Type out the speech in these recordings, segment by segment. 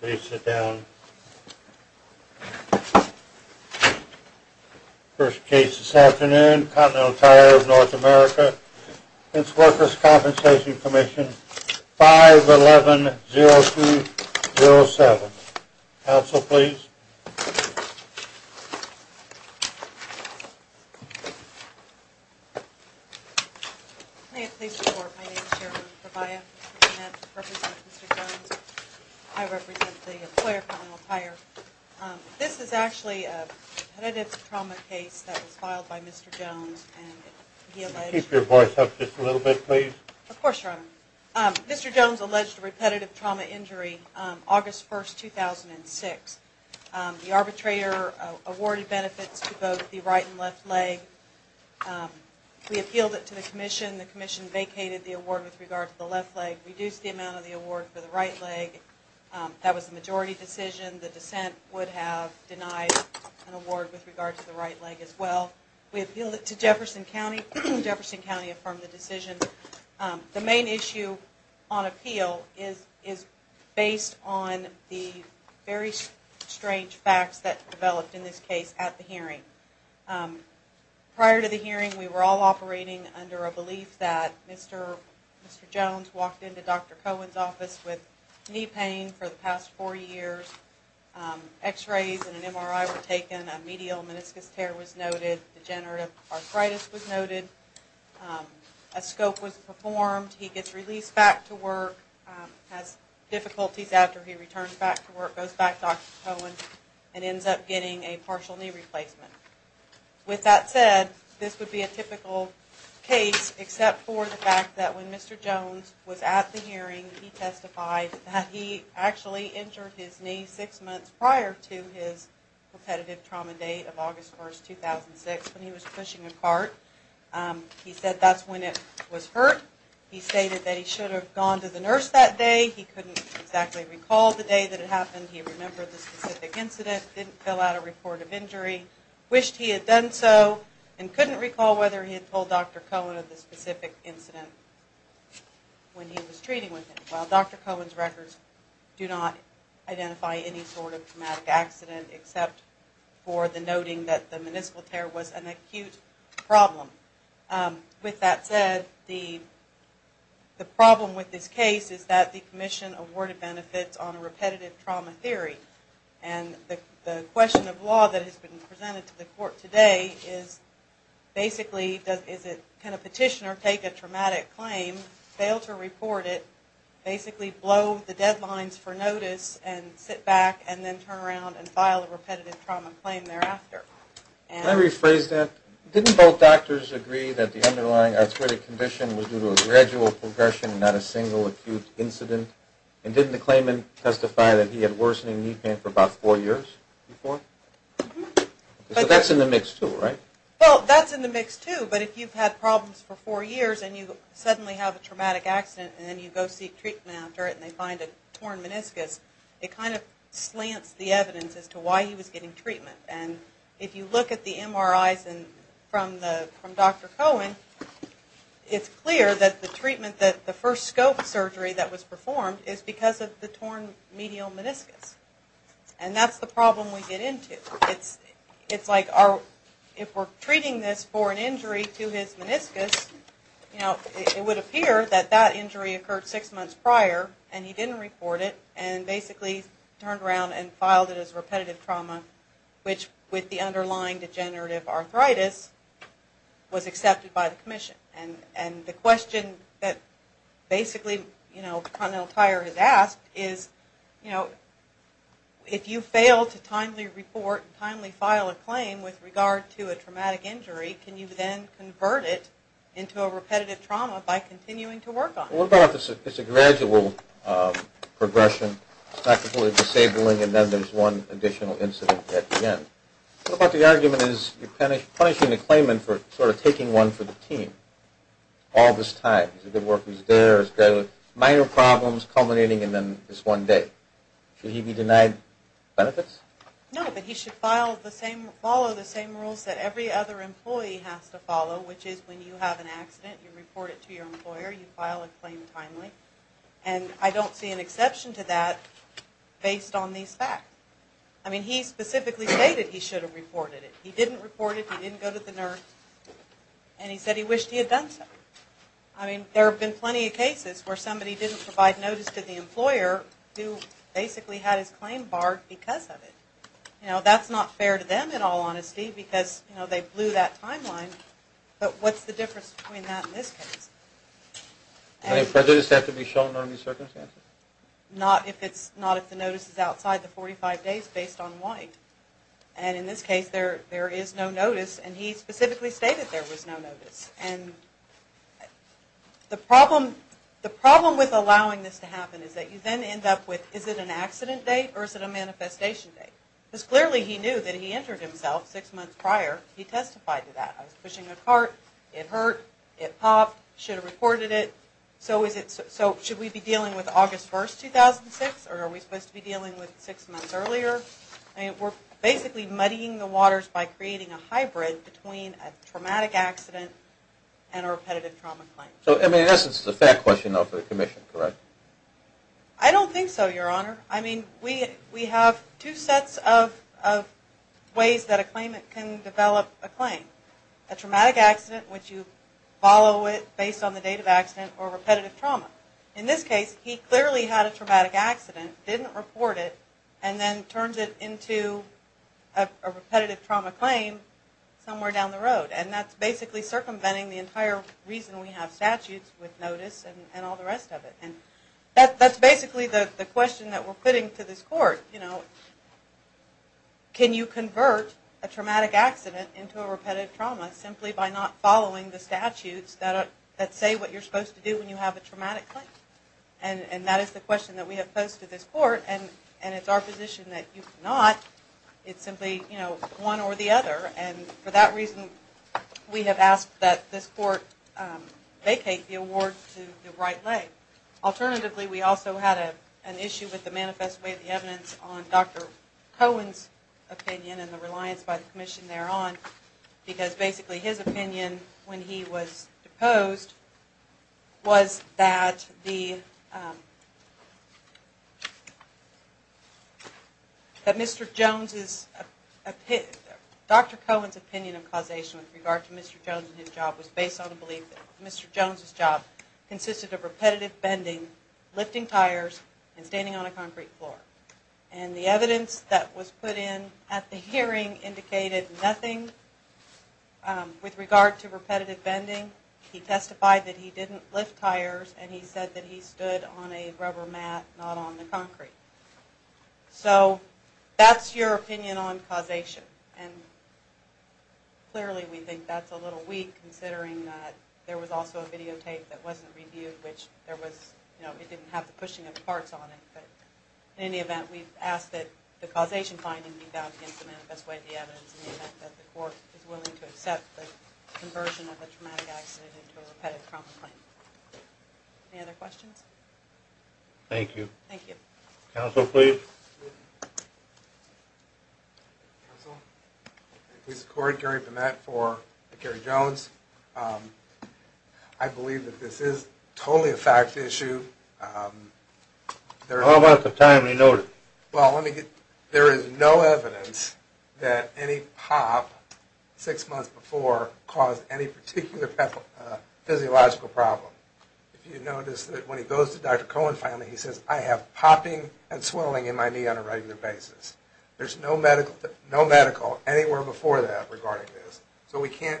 Please sit down. First case this afternoon, Continental Tire North America v. Workers' Compensation Comm'n, 5-11-0207. Counsel, please. May it please the court, my name is Sharon Bravaia. I represent Mr. Jones. I represent the employer, Continental Tire. This is actually a repetitive trauma case that was filed by Mr. Jones. Could you keep your voice up just a little bit, please? Of course, Your Honor. Mr. Jones alleged a repetitive trauma injury August 1, 2006. The arbitrator awarded benefits to both the right and left leg. We appealed it to the commission. The commission vacated the award with regard to the left leg, reduced the amount of the award for the right leg. That was the majority decision. The dissent would have denied an award with regard to the right leg as well. We appealed it to Jefferson County. Jefferson County affirmed the decision. The main issue on appeal is based on the very strange facts that developed in this case at the hearing. Prior to the hearing, we were all operating under a belief that Mr. Jones walked into Dr. Cohen's office with knee pain for the past four years. X-rays and an MRI were taken. A medial meniscus tear was noted. Degenerative arthritis was noted. A scope was performed. He gets released back to work, has difficulties after he returns back to work, goes back to Dr. Cohen, and ends up getting a partial knee replacement. With that said, this would be a typical case except for the fact that when Mr. Jones was at the hearing, he testified that he actually injured his knee six months prior to his repetitive trauma date of August 1, 2006 when he was pushing a cart. He said that's when it was hurt. He stated that he should have gone to the nurse that day. He couldn't exactly recall the day that it happened. He remembered the specific incident, didn't fill out a report of injury, wished he had done so, and couldn't recall whether he had told Dr. Cohen of the specific incident when he was treating with him. While Dr. Cohen's records do not identify any sort of traumatic accident except for the noting that the meniscus tear was an acute problem. With that said, the problem with this case is that the commission awarded benefits on a repetitive trauma theory. The question of law that has been presented to the court today is basically can a petitioner take a traumatic claim, fail to report it, basically blow the deadlines for notice and sit back and then turn around and file a repetitive trauma claim thereafter. Can I rephrase that? Didn't both doctors agree that the underlying arthritic condition was due to a gradual progression and not a single acute incident? And didn't the claimant testify that he had worsening knee pain for about four years before? So that's in the mix too, right? Well, that's in the mix too, but if you've had problems for four years and you suddenly have a traumatic accident and then you go seek treatment after it and they find a torn meniscus, it kind of slants the evidence as to why he was getting treatment. And if you look at the MRIs from Dr. Cohen, it's clear that the first scope surgery that was performed is because of the torn medial meniscus. And that's the problem we get into. It's like if we're treating this for an injury to his meniscus, it would appear that that injury occurred six months prior and he didn't report it and basically turned around and filed it as repetitive trauma, which with the underlying degenerative arthritis was accepted by the commission. And the question that basically, you know, Connell Tyer has asked is, you know, if you fail to timely report and timely file a claim with regard to a traumatic injury, can you then convert it into a repetitive trauma by continuing to work on it? Well, what about if it's a gradual progression? It's not completely disabling and then there's one additional incident at the end. What about if the argument is you're punishing the claimant for sort of taking one for the team all this time? He's a good worker, he's there, he's got minor problems culminating and then it's one day. Should he be denied benefits? No, but he should follow the same rules that every other employee has to follow, which is when you have an accident, you report it to your employer, you file a claim timely. And I don't see an exception to that based on these facts. I mean, he specifically stated he should have reported it. He didn't report it, he didn't go to the nurse and he said he wished he had done so. I mean, there have been plenty of cases where somebody didn't provide notice to the employer who basically had his claim barred because of it. You know, that's not fair to them in all honesty because, you know, they blew that timeline. But what's the difference between that and this case? Does prejudice have to be shown under any circumstances? Not if the notice is outside the 45 days based on why. And in this case, there is no notice and he specifically stated there was no notice. And the problem with allowing this to happen is that you then end up with is it an accident date or is it a manifestation date? Because clearly he knew that he injured himself six months prior, he testified to that. I was pushing a cart, it hurt, it popped, should have reported it. So should we be dealing with August 1, 2006 or are we supposed to be dealing with six months earlier? I mean, we're basically muddying the waters by creating a hybrid between a traumatic accident and a repetitive trauma claim. So, in essence, it's a fair question of the commission, correct? I don't think so, Your Honor. I mean, we have two sets of ways that a claimant can develop a claim. A traumatic accident which you follow it based on the date of accident or repetitive trauma. In this case, he clearly had a traumatic accident, didn't report it, and then turns it into a repetitive trauma claim somewhere down the road. And that's basically circumventing the entire reason we have statutes with notice and all the rest of it. And that's basically the question that we're putting to this court, you know. Can you convert a traumatic accident into a repetitive trauma simply by not following the statutes that say what you're supposed to do when you have a traumatic claim? And that is the question that we have posed to this court, and it's our position that you cannot. It's simply, you know, one or the other. And for that reason, we have asked that this court vacate the award to the right leg. Alternatively, we also had an issue with the manifest way of the evidence on Dr. Cohen's opinion and the reliance by the commission thereon because basically his opinion when he was deposed was that the, that Mr. Jones' opinion, Dr. Cohen's opinion of causation with regard to Mr. Jones and his job was based on the belief that Mr. Jones' job consisted of repetitive bending, lifting tires, and standing on a concrete floor. And the evidence that was put in at the hearing indicated nothing with regard to repetitive bending. He testified that he didn't lift tires, and he said that he stood on a rubber mat, not on the concrete. So that's your opinion on causation. And clearly we think that's a little weak considering that there was also a videotape that wasn't reviewed, which there was, you know, it didn't have the pushing of the parts on it. But in any event, we've asked that the causation finding be bound against the manifest way of the evidence in the event that the court is willing to accept the conversion of a traumatic accident into a repetitive trauma claim. Any other questions? Thank you. Thank you. Counsel, please. Counsel. Lisa Cord, Gary Pimett for the Kerry Jones. I believe that this is totally a fact issue. How about the timely notice? Well, there is no evidence that any pop six months before caused any particular physiological problem. If you notice that when he goes to Dr. Cohen finally, he says, I have popping and swelling in my knee on a regular basis. There's no medical anywhere before that regarding this. So we can't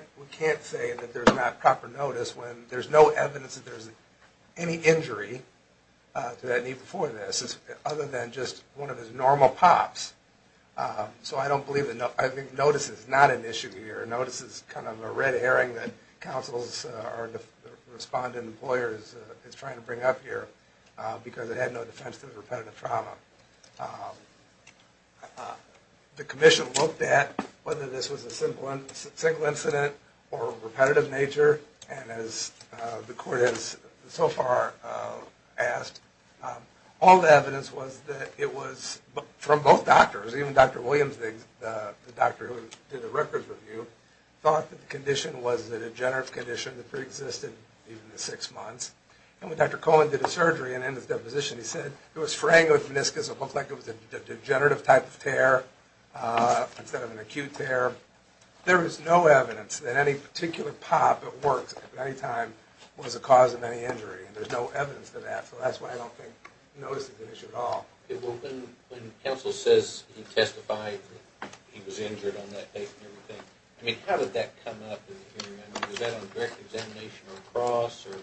say that there's not proper notice when there's no evidence that there's any injury to that knee before this, other than just one of his normal pops. So I don't believe that notice is not an issue here. Notice is kind of a red herring that counsel's respondent employers is trying to bring up here because it had no defense to the repetitive trauma. The commission looked at whether this was a single incident or repetitive nature. And as the court has so far asked, all the evidence was that it was from both doctors, even Dr. Williams, the doctor who did the records review, thought that the condition was a degenerative condition that preexisted even the six months. And when Dr. Cohen did the surgery and in his deposition he said, it was fraying of the meniscus. It looked like it was a degenerative type of tear instead of an acute tear. There is no evidence that any particular pop at work at any time was a cause of any injury. There's no evidence for that. So that's why I don't think notice is an issue at all. Okay. Well, when counsel says he testified that he was injured on that date and everything, I mean, how did that come up in the hearing? I mean, was that on direct examination or across? Or,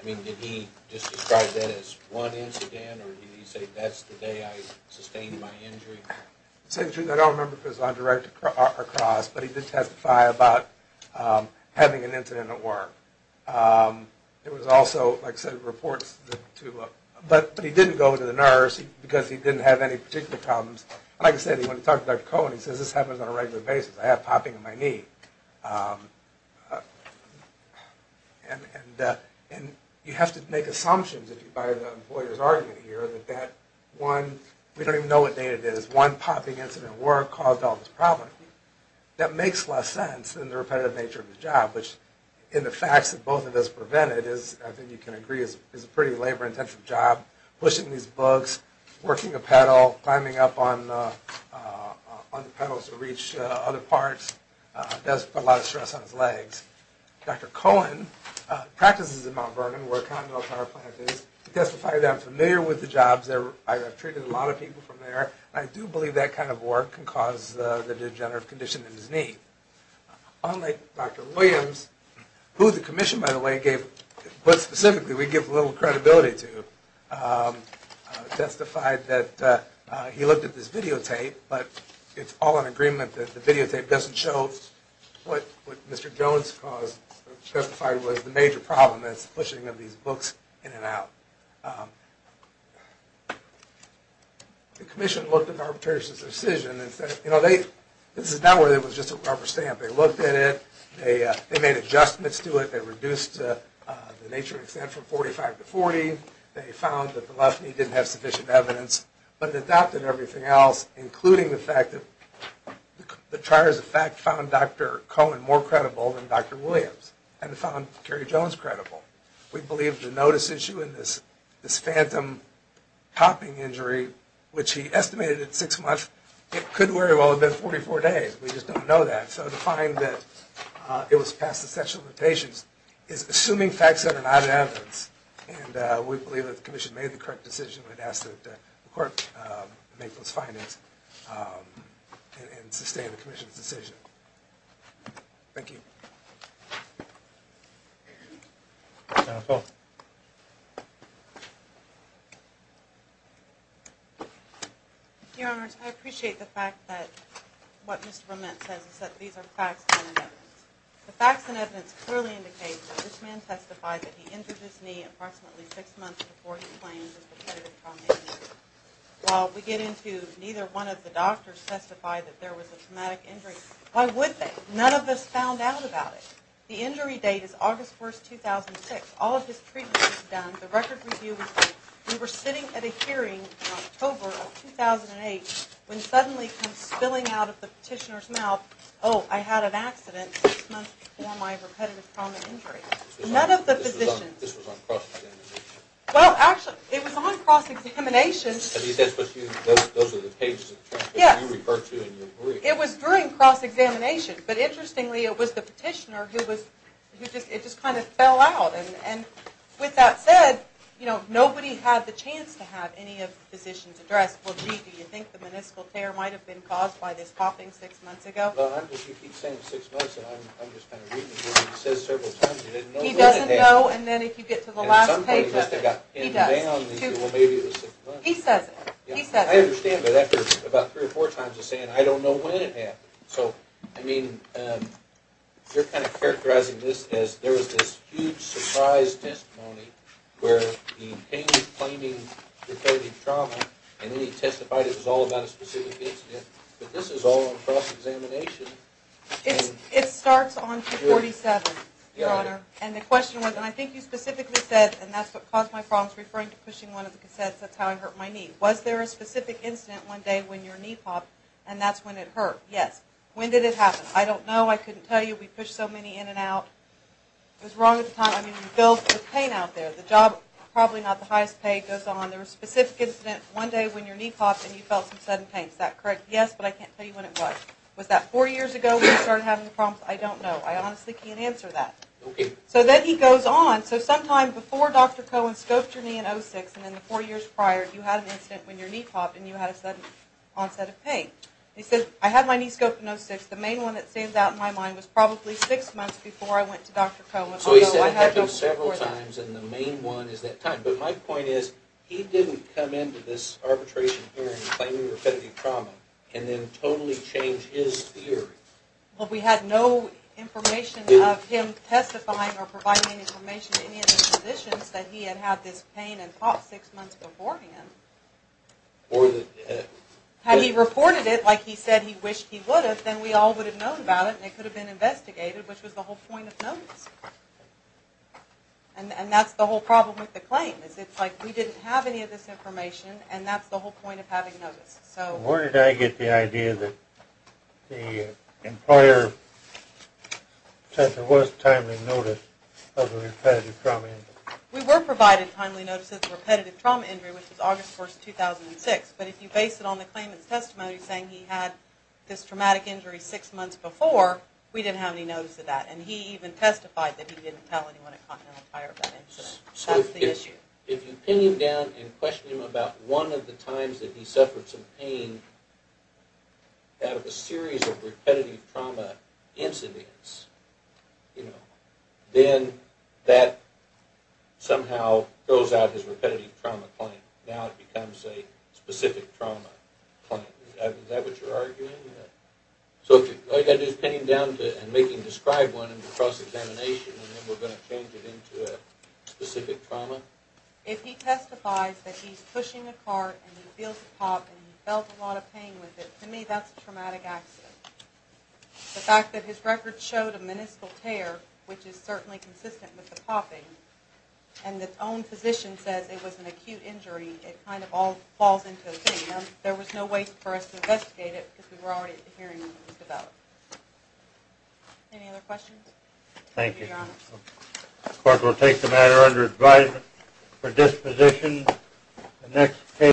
I mean, did he just describe that as one incident or did he say that's the day I sustained my injury? I don't remember if it was on direct or across, but he did testify about having an incident at work. There was also, like I said, reports. But he didn't go to the nurse because he didn't have any particular problems. Like I said, he went and talked to Dr. Cohen. He says, this happens on a regular basis. I have popping in my knee. And you have to make assumptions if you buy the lawyer's argument here that that one, we don't even know what day it is, one popping incident at work caused all this problem. That makes less sense than the repetitive nature of the job, which in the facts that both of us prevented is, I think you can agree, is a pretty labor-intensive job, pushing these books, working a pedal, climbing up on the pedals to reach other parts. It does put a lot of stress on his legs. Dr. Cohen practices in Mount Vernon, where Continental Power Plant is. He testified that I'm familiar with the jobs there. I have treated a lot of people from there. I do believe that kind of work can cause the degenerative condition in his knee. Unlike Dr. Williams, who the commission, by the way, gave, but specifically we give little credibility to, testified that he looked at this videotape, but it's all in agreement that the videotape doesn't show what Mr. Jones testified was the major problem, that's the pushing of these books in and out. The commission looked at arbitration's decision and said, this is not where it was just a rubber stamp. They looked at it. They made adjustments to it. They reduced the nature and extent from 45 to 40. They found that the left knee didn't have sufficient evidence, but it adopted everything else, including the fact that the Trier's effect found Dr. Cohen more credible than Dr. Williams and found Kerry Jones credible. We believe the notice issue in this phantom popping injury, which he estimated at six months, it could very well have been 44 days. We just don't know that. So to find that it was past the statute of limitations is assuming facts that are not evidence, and we believe that the commission made the correct decision. We'd ask that the court make those findings and sustain the commission's decision. Thank you. Counsel. Your Honors, I appreciate the fact that what Mr. Bromet says is that these are facts and evidence. The facts and evidence clearly indicate that this man testified that he injured his knee approximately six months before he claimed repetitive trauma injury. While we get into neither one of the doctors testified that there was a traumatic injury. Why would they? None of us found out about it. The injury date is August 1, 2006. All of his treatment was done. The record review was done. We were sitting at a hearing in October of 2008 when suddenly it came spilling out of the petitioner's mouth, oh, I had an accident six months before my repetitive trauma injury. None of the physicians. This was on cross-examination. Well, actually, it was on cross-examination. I mean, those are the pages of transcripts you refer to in your brief. It was during cross-examination. But interestingly, it was the petitioner who just kind of fell out. And with that said, you know, nobody had the chance to have any of the physicians addressed. Well, gee, do you think the meniscal tear might have been caused by this popping six months ago? Well, you keep saying six months, and I'm just kind of reading it. He says several times he didn't know when it happened. He doesn't know, and then if you get to the last page, he does. At some point he must have got pinned down and said, well, maybe it was six months. He says it. He says it. I understand, but after about three or four times of saying it, I don't know when it happened. So, I mean, you're kind of characterizing this as there was this huge surprise testimony where he came claiming that there had been trauma, and then he testified it was all about a specific incident. But this is all on cross-examination. It starts on 247, Your Honor. And the question was, and I think you specifically said, and that's what caused my problems, referring to pushing one of the cassettes. That's how I hurt my knee. Was there a specific incident one day when your knee popped, and that's when it hurt? Yes. When did it happen? I don't know. I couldn't tell you. We pushed so many in and out. It was wrong at the time. I mean, you felt the pain out there. The job, probably not the highest pay. It goes on. There was a specific incident one day when your knee popped, and you felt some sudden pain. Is that correct? Yes, but I can't tell you when it was. Was that four years ago when you started having the problems? I don't know. I honestly can't answer that. Okay. So then he goes on. So sometime before Dr. Cohen scoped your knee in 06, and then the four years prior, you had an incident when your knee popped, and you had a sudden onset of pain. He said, I had my knee scoped in 06. The main one that stands out in my mind was probably six months before I went to Dr. Cohen. So he said it happened several times, and the main one is that time. But my point is, he didn't come into this arbitration hearing claiming you were affected by trauma, and then totally change his theory. Well, we had no information of him testifying or providing any information to any of the physicians that he had had this pain and popped six months beforehand. Had he reported it like he said he wished he would have, then we all would have known about it, and it could have been investigated, which was the whole point of notice. And that's the whole problem with the claim, is it's like we didn't have any of this information, and that's the whole point of having notice. Where did I get the idea that the employer said there was timely notice of the repetitive trauma injury? We were provided timely notice of the repetitive trauma injury, which was August 1, 2006. But if you base it on the claimant's testimony saying he had this traumatic injury six months before, we didn't have any notice of that. And he even testified that he didn't tell anyone at Continental Tire of that incident. So if you pin him down and question him about one of the times that he suffered some pain out of a series of repetitive trauma incidents, then that somehow throws out his repetitive trauma claim. Now it becomes a specific trauma claim. Is that what you're arguing? So all you've got to do is pin him down and make him describe one in the cross-examination, and then we're going to change it into a specific trauma? If he testifies that he's pushing a cart and he feels a pop and he felt a lot of pain with it, to me that's a traumatic accident. The fact that his record showed a meniscal tear, which is certainly consistent with the popping, and that his own physician says it was an acute injury, it kind of all falls into oblivion. There was no way for us to investigate it because we were already hearing what was developed. Any other questions? Thank you. The court will take the matter under advisement for disposition.